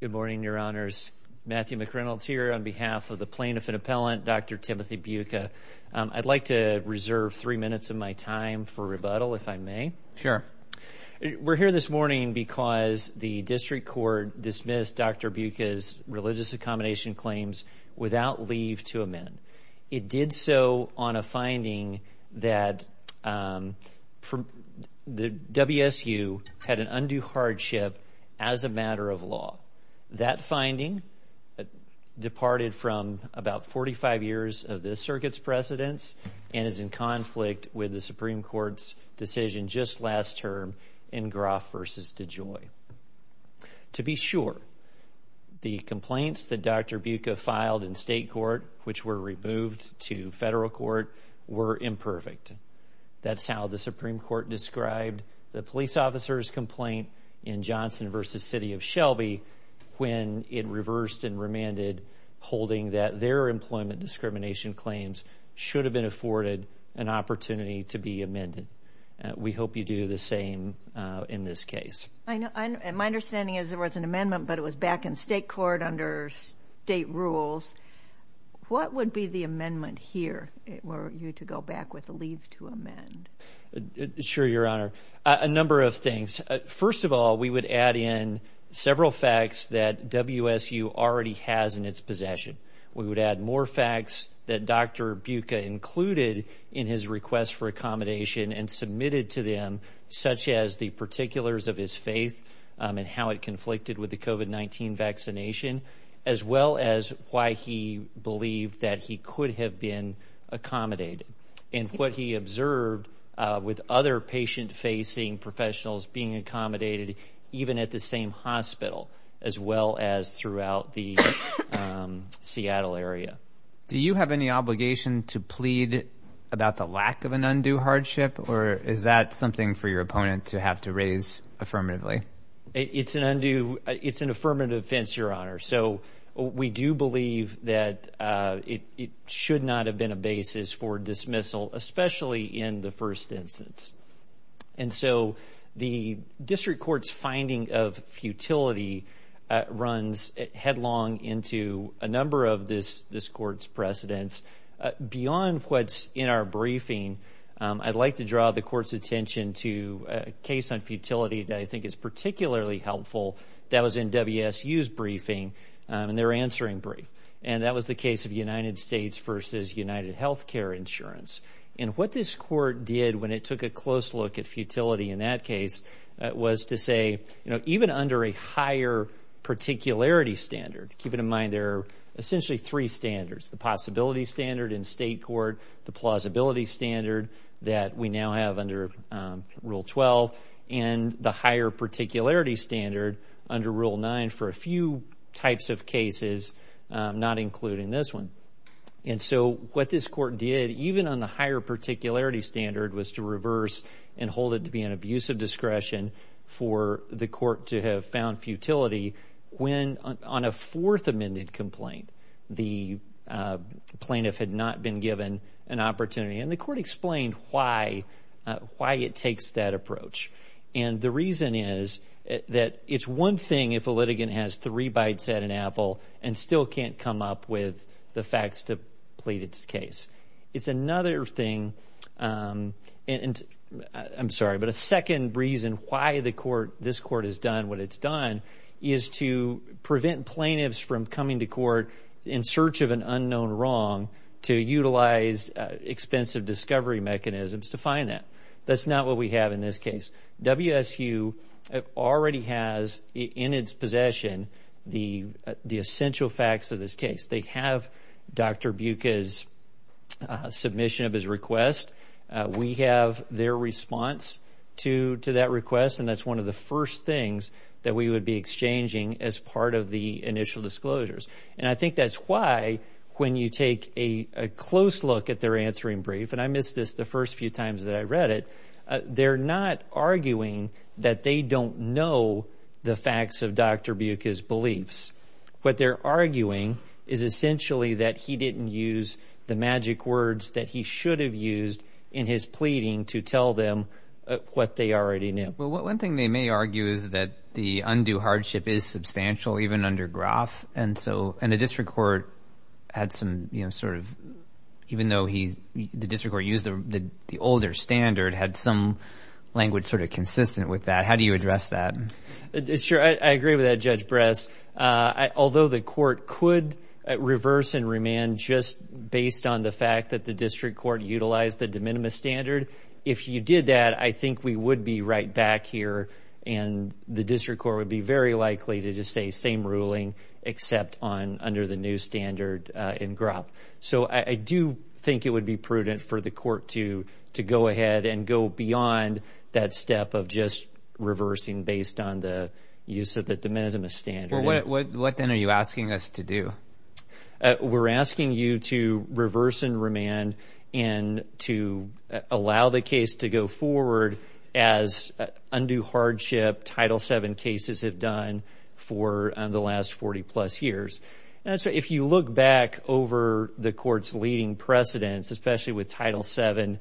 Good morning, Your Honors. Matthew McReynolds here on behalf of the plaintiff and appellant, Dr. Timothy Beuca. I'd like to reserve three minutes of my time for rebuttal, if I may. Sure. We're here this morning because the district court dismissed Dr. Beuca's religious accommodation claims without leave to amend. It did so on a finding that the WSU had an undue hardship as a matter of law. That finding departed from about 45 years of this circuit's precedence and is in conflict with the Supreme Court's decision just last term in Groff v. DeJoy. To be sure, the complaints that Dr. Beuca filed in state court, which were removed to federal court, were imperfect. That's how the Supreme Court described the police officer's complaint in Johnson v. City of Shelby when it reversed and remanded, holding that their employment discrimination claims should have been afforded an opportunity to be amended. We hope you do the same in this case. My understanding is there was an amendment, but it was back in state court under state rules. What would be the amendment here were you to go back with a leave to amend? Sure, Your Honor. A number of things. First of all, we would add in several facts that WSU already has in its possession. We would add more facts that Dr. Beuca included in his request for accommodation and submitted to them, such as the particulars of his faith and how it conflicted with the COVID-19 vaccination, as well as why he believed that he could have been accommodated and what he observed with other patient-facing professionals being accommodated even at the same hospital, as well as throughout the Seattle area. Do you have any obligation to plead about the lack of an undue hardship, or is that something for your opponent to have to raise affirmatively? It's an undue. It's an affirmative offense, Your Honor. So we do believe that it should not have been a basis for dismissal, especially in the first instance. And so the district court's finding of futility runs headlong into a number of this court's precedents. Beyond what's in our briefing, I'd like to draw the court's attention to a case on futility that I think is particularly helpful that was in WSU's briefing in their answering brief, and that was the case of United States v. UnitedHealthcare Insurance. And what this court did when it took a close look at futility in that case was to say, even under a higher particularity standard, keep in mind there are essentially three standards, the possibility standard in state court, the plausibility standard that we now have under Rule 12, and the higher particularity standard under Rule 9 for a few types of cases, not including this one. And so what this court did, even on the higher particularity standard, was to reverse and hold it to be an abuse of discretion for the court to have found futility when on a fourth amended complaint the plaintiff had not been given an opportunity. And the court explained why it takes that approach. And the reason is that it's one thing if a litigant has three bites at an apple and still can't come up with the facts to plead its case. It's another thing, I'm sorry, but a second reason why this court has done what it's done is to prevent plaintiffs from coming to court in search of an unknown wrong to utilize expensive discovery mechanisms to find that. That's not what we have in this case. WSU already has in its possession the essential facts of this case. They have Dr. Buca's submission of his request. We have their response to that request, and that's one of the first things that we would be exchanging as part of the initial disclosures. And I think that's why when you take a close look at their answering brief, and I missed this the first few times that I read it, they're not arguing that they don't know the facts of Dr. Buca's beliefs. What they're arguing is essentially that he didn't use the magic words that he should have used in his pleading to tell them what they already knew. Well, one thing they may argue is that the undue hardship is substantial even under Groff, and the district court had some sort of, even though the district court used the older standard, had some language sort of consistent with that. How do you address that? Sure, I agree with that, Judge Bress. Although the court could reverse and remand just based on the fact that the district court utilized the de minimis standard, if you did that, I think we would be right back here, and the district court would be very likely to just say same ruling except under the new standard in Groff. So I do think it would be prudent for the court to go ahead and go beyond that step of just reversing based on the use of the de minimis standard. Well, what then are you asking us to do? We're asking you to reverse and remand and to allow the case to go forward as undue hardship Title VII cases have done for the last 40-plus years. And so if you look back over the court's leading precedents, especially with Title VII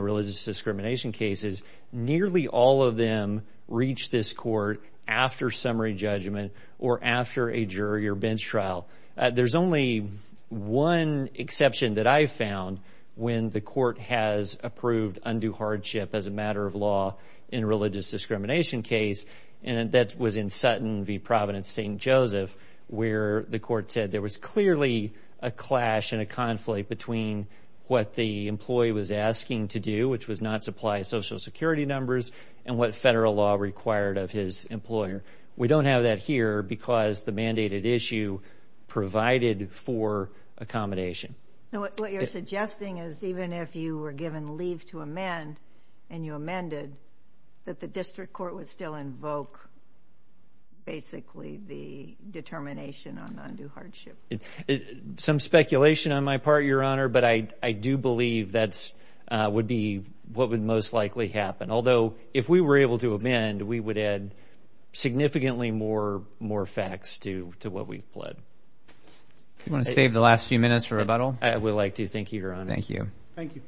religious discrimination cases, nearly all of them reached this court after summary judgment or after a jury or bench trial. There's only one exception that I found when the court has approved undue hardship as a matter of law in a religious discrimination case, and that was in Sutton v. Providence St. Joseph, where the court said there was clearly a clash and a conflict between what the employee was asking to do, which was not supply Social Security numbers, and what federal law required of his employer. We don't have that here because the mandated issue provided for accommodation. Now, what you're suggesting is even if you were given leave to amend and you amended, that the district court would still invoke basically the determination on undue hardship? Some speculation on my part, Your Honor, but I do believe that would be what would most likely happen. Although if we were able to amend, we would add significantly more facts to what we've pled. Do you want to save the last few minutes for rebuttal? I would like to. Thank you, Your Honor. Thank you. Thank you.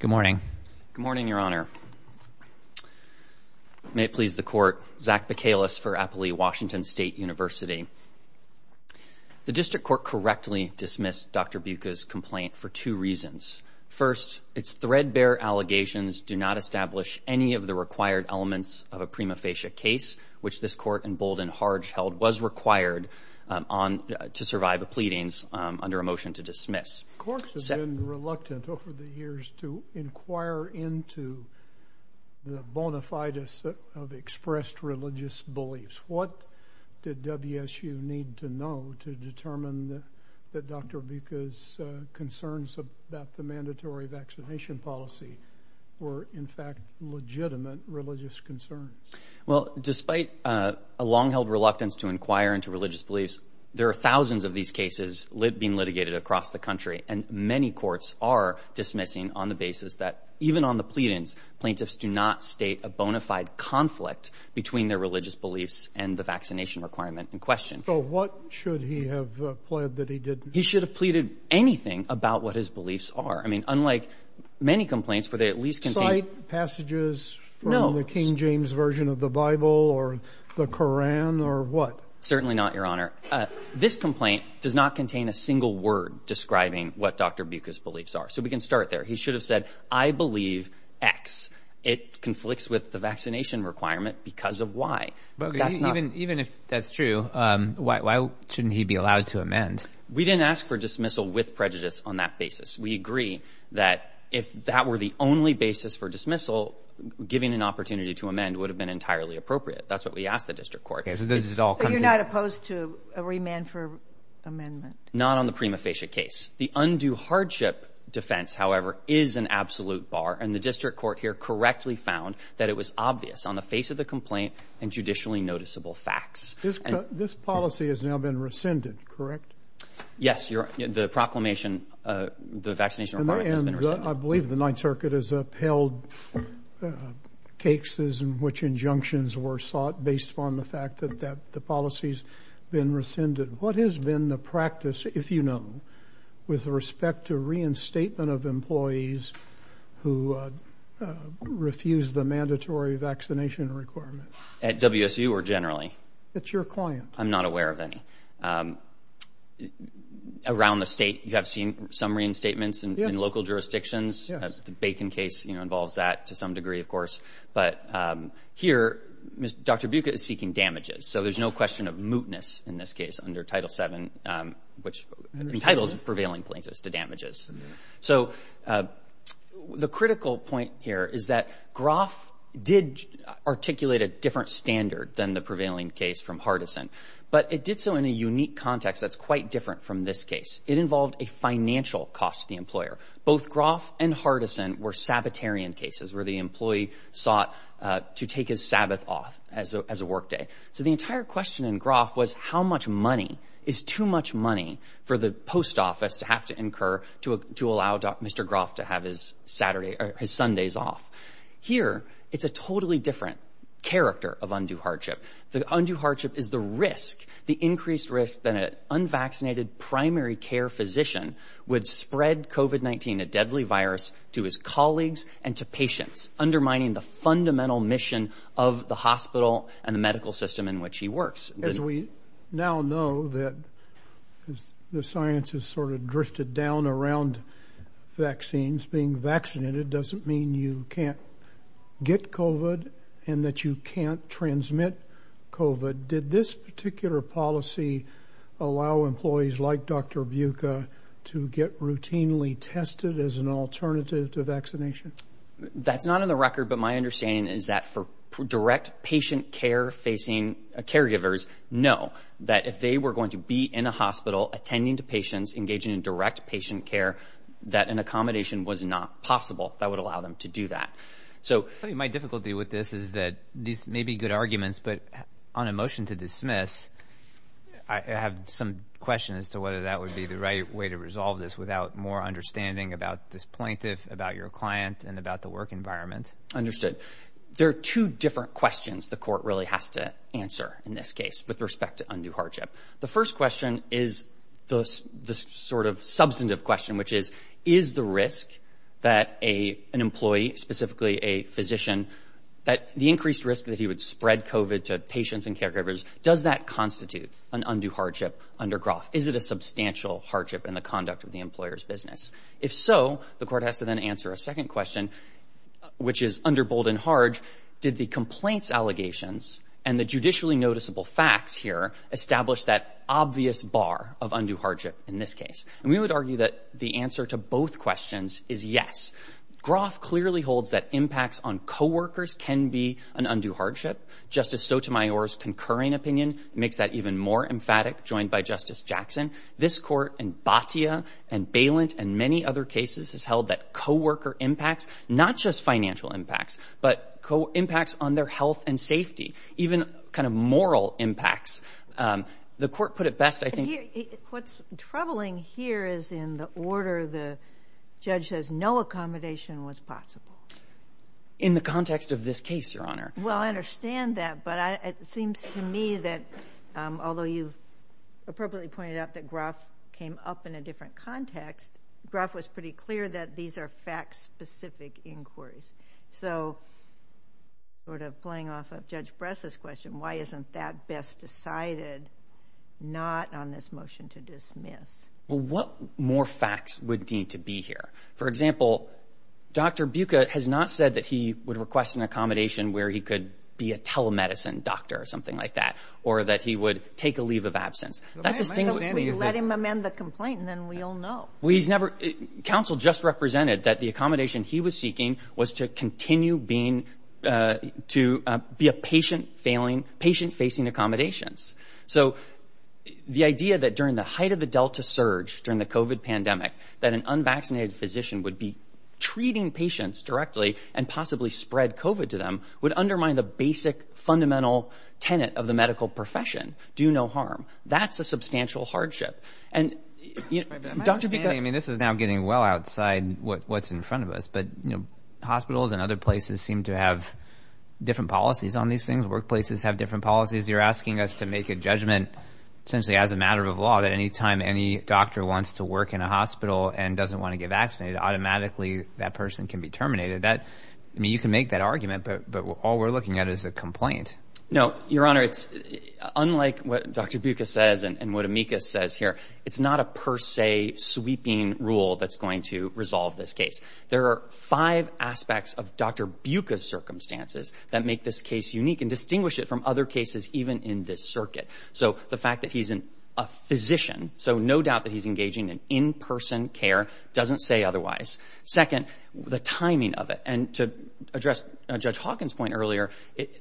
Good morning. Good morning, Your Honor. May it please the court. Zach Bacalus for Applee Washington State University. The district court correctly dismissed Dr. Buca's complaint for two reasons. First, its threadbare allegations do not establish any of the required elements of a prima facie case, which this court in Bolden Harge held was required to survive the pleadings under a motion to dismiss. Corks has been reluctant over the years to inquire into the bona fides of expressed religious beliefs. What did WSU need to know to determine that Dr. Buca's concerns about the mandatory vaccination policy were in fact legitimate religious concerns? Well, despite a long-held reluctance to inquire into religious beliefs, there are thousands of these cases being litigated across the country, and many courts are dismissing on the basis that even on the pleadings, plaintiffs do not state a bona fide conflict between their religious beliefs and the vaccination requirement in question. So what should he have pled that he didn't? He should have pleaded anything about what his beliefs are. I mean, unlike many complaints where they at least contain — Side passages from the King James version of the Bible or the Koran or what? Certainly not, Your Honor. This complaint does not contain a single word describing what Dr. Buca's beliefs are. So we can start there. He should have said, I believe X. It conflicts with the vaccination requirement because of Y. That's not — But even if that's true, why shouldn't he be allowed to amend? We didn't ask for dismissal with prejudice on that basis. We agree that if that were the only basis for dismissal, giving an opportunity to amend would have been entirely appropriate. That's what we asked the district court. So you're not opposed to a remand for amendment? Not on the prima facie case. The undue hardship defense, however, is an absolute bar. And the district court here correctly found that it was obvious on the face of the complaint and judicially noticeable facts. This policy has now been rescinded, correct? Yes. The proclamation, the vaccination requirement has been rescinded. And I believe the Ninth Circuit has upheld cases in which injunctions were sought based upon the fact that the policy has been rescinded. What has been the practice, if you know, with respect to reinstatement of employees who refuse the mandatory vaccination requirement? At WSU or generally? At your client. I'm not aware of any. Around the State, you have seen some reinstatements in local jurisdictions. Yes. The Bacon case involves that to some degree, of course. But here, Dr. Buca is seeking damages. So there's no question of mootness in this case under Title VII, which entitles prevailing plaintiffs to damages. So the critical point here is that Groff did articulate a different standard than the prevailing case from Hardison, but it did so in a unique context that's quite different from this case. It involved a financial cost to the employer. Both Groff and Hardison were Sabbatarian cases where the employee sought to take his Sabbath off as a workday. So the entire question in Groff was how much money is too much money for the post office to have to incur to allow Mr. Groff to have his Sunday's off. Here, it's a totally different character of undue hardship. The undue hardship is the risk, the increased risk that an unvaccinated primary care physician would spread COVID-19, a deadly virus, to his colleagues and to patients, undermining the fundamental mission of the hospital and the medical system in which he works. As we now know that the science has sort of drifted down around vaccines, being vaccinated doesn't mean you can't get COVID and that you can't transmit COVID. But did this particular policy allow employees like Dr. Buca to get routinely tested as an alternative to vaccination? That's not on the record, but my understanding is that for direct patient care facing caregivers, no, that if they were going to be in a hospital attending to patients engaging in direct patient care, that an accommodation was not possible that would allow them to do that. My difficulty with this is that these may be good arguments, but on a motion to dismiss, I have some questions as to whether that would be the right way to resolve this without more understanding about this plaintiff, about your client, and about the work environment. Understood. There are two different questions the court really has to answer in this case with respect to undue hardship. The first question is the sort of substantive question, which is, is the risk that an employee, specifically a physician, that the increased risk that he would spread COVID to patients and caregivers, does that constitute an undue hardship under Groff? Is it a substantial hardship in the conduct of the employer's business? If so, the court has to then answer a second question, which is under Bold and Harge, did the complaints allegations and the judicially noticeable facts here establish that obvious bar of undue hardship in this case? And we would argue that the answer to both questions is yes. Groff clearly holds that impacts on co-workers can be an undue hardship. Justice Sotomayor's concurring opinion makes that even more emphatic, joined by Justice Jackson. This Court in Batia and Balint and many other cases has held that co-worker impacts, not just financial impacts, but impacts on their health and safety, even kind of moral impacts. The court put it best, I think. What's troubling here is in the order the judge says no accommodation was possible. In the context of this case, Your Honor. Well, I understand that, but it seems to me that although you've appropriately pointed out that Groff came up in a different context, Groff was pretty clear that these are fact-specific inquiries. So sort of playing off of Judge Bress's question, why isn't that best decided not on this motion to dismiss? Well, what more facts would need to be here? For example, Dr. Buca has not said that he would request an accommodation where he could be a telemedicine doctor or something like that, or that he would take a leave of absence. Let him amend the complaint and then we'll know. Well, he's never. Counsel just represented that the accommodation he was seeking was to continue to be a patient-facing accommodations. So the idea that during the height of the Delta surge, during the COVID pandemic, that an unvaccinated physician would be treating patients directly and possibly spread COVID to them would undermine the basic, fundamental tenet of the medical profession, do no harm. That's a substantial hardship. And Dr. Buca. I mean, this is now getting well outside what's in front of us, but hospitals and other places seem to have different policies on these things. Workplaces have different policies. You're asking us to make a judgment essentially as a matter of law that any time any doctor wants to work in a hospital and doesn't want to get vaccinated, automatically that person can be terminated. I mean, you can make that argument, but all we're looking at is a complaint. No, Your Honor, unlike what Dr. Buca says and what Amicus says here, it's not a per se sweeping rule that's going to resolve this case. There are five aspects of Dr. Buca's circumstances that make this case unique and distinguish it from other cases even in this circuit. So the fact that he's a physician, so no doubt that he's engaging in in-person care, doesn't say otherwise. Second, the timing of it. And to address Judge Hawkins' point earlier,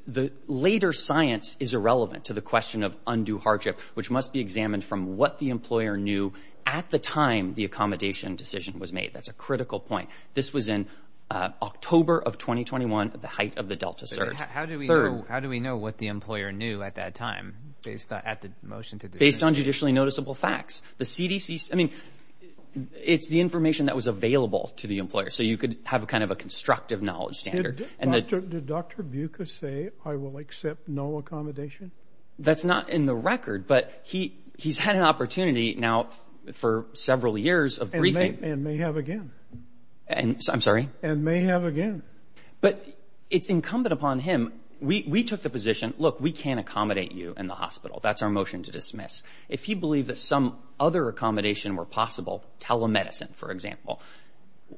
the later science is irrelevant to the question of undue hardship, which must be examined from what the employer knew at the time the accommodation decision was made. That's a critical point. This was in October of 2021 at the height of the Delta surge. How do we know what the employer knew at that time based on the motion to do this? Based on judicially noticeable facts. I mean, it's the information that was available to the employer, so you could have kind of a constructive knowledge standard. Did Dr. Buca say, I will accept no accommodation? That's not in the record, but he's had an opportunity now for several years of briefing. And may have again. I'm sorry? And may have again. But it's incumbent upon him. We took the position, look, we can't accommodate you in the hospital. That's our motion to dismiss. If he believed that some other accommodation were possible, telemedicine, for example,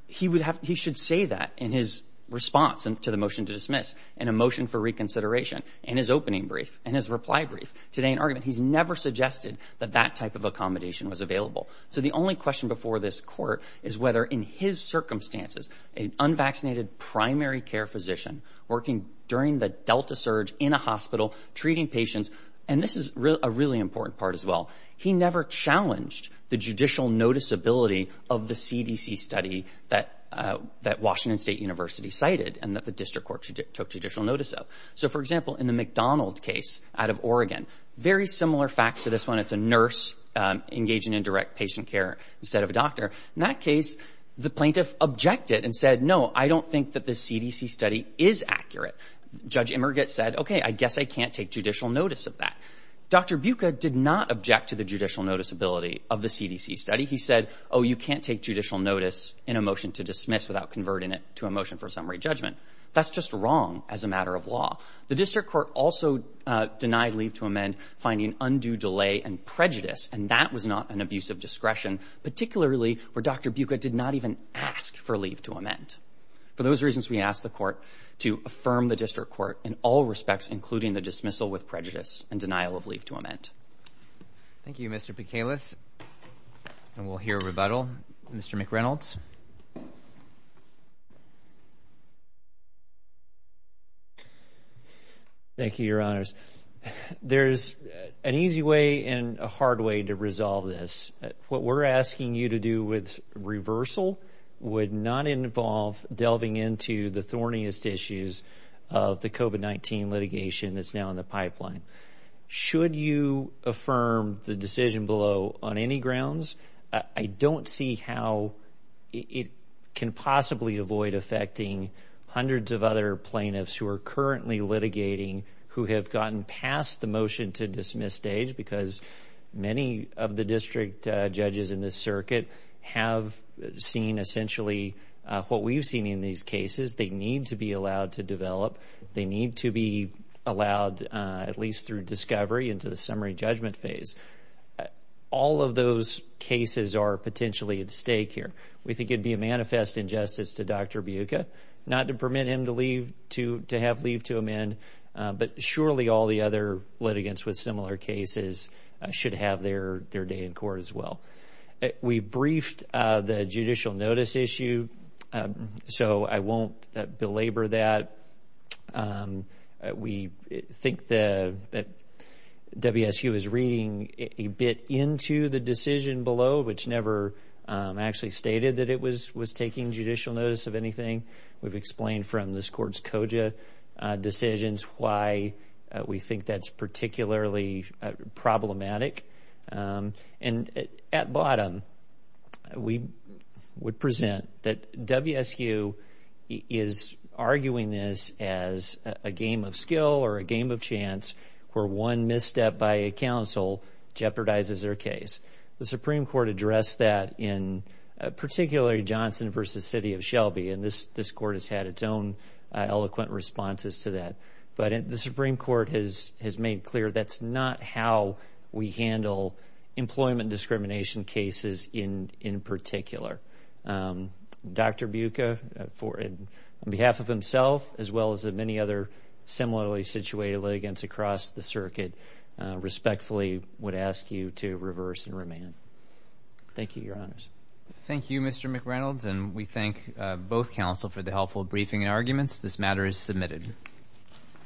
he should say that in his response to the motion to dismiss, in a motion for reconsideration, in his opening brief, in his reply brief, today in argument. He's never suggested that that type of accommodation was available. So the only question before this court is whether in his circumstances, an unvaccinated primary care physician working during the Delta surge in a hospital, treating patients, and this is a really important part as well, he never challenged the judicial noticeability of the CDC study that Washington State University cited and that the district court took judicial notice of. So, for example, in the McDonald case out of Oregon, very similar facts to this one. It's a nurse engaging in direct patient care instead of a doctor. In that case, the plaintiff objected and said, no, I don't think that the CDC study is accurate. Judge Emmergat said, okay, I guess I can't take judicial notice of that. Dr. Buca did not object to the judicial noticeability of the CDC study. He said, oh, you can't take judicial notice in a motion to dismiss without converting it to a motion for summary judgment. That's just wrong as a matter of law. The district court also denied leave to amend finding undue delay and prejudice, and that was not an abuse of discretion, particularly where Dr. Buca did not even ask for leave to amend. For those reasons, we ask the court to affirm the district court in all respects, including the dismissal with prejudice and denial of leave to amend. Thank you, Mr. Picalis. And we'll hear a rebuttal. Mr. McReynolds. Thank you, Your Honors. There's an easy way and a hard way to resolve this. What we're asking you to do with reversal would not involve delving into the thorniest issues of the COVID-19 litigation that's now in the pipeline. Should you affirm the decision below on any grounds? I don't see how it can possibly avoid affecting hundreds of other plaintiffs who are currently litigating, who have gotten past the motion to dismiss stage, because many of the district judges in this circuit have seen essentially what we've seen in these cases. They need to be allowed to develop. They need to be allowed, at least through discovery, into the summary judgment phase. All of those cases are potentially at stake here. We think it would be a manifest injustice to Dr. Buca not to permit him to have leave to amend, but surely all the other litigants with similar cases should have their day in court as well. We briefed the judicial notice issue, so I won't belabor that. We think that WSU is reading a bit into the decision below, which never actually stated that it was taking judicial notice of anything. We've explained from this court's COJA decisions why we think that's particularly problematic. And at bottom, we would present that WSU is arguing this as a game of skill or a game of chance where one misstep by a counsel jeopardizes their case. The Supreme Court addressed that in particularly Johnson v. City of Shelby, and this court has had its own eloquent responses to that. But the Supreme Court has made clear that's not how we handle employment discrimination cases in particular. Dr. Buca, on behalf of himself as well as many other similarly situated litigants across the circuit, respectfully would ask you to reverse and remand. Thank you, Your Honors. Thank you, Mr. McReynolds, and we thank both counsel for the helpful briefing and arguments. This matter is submitted.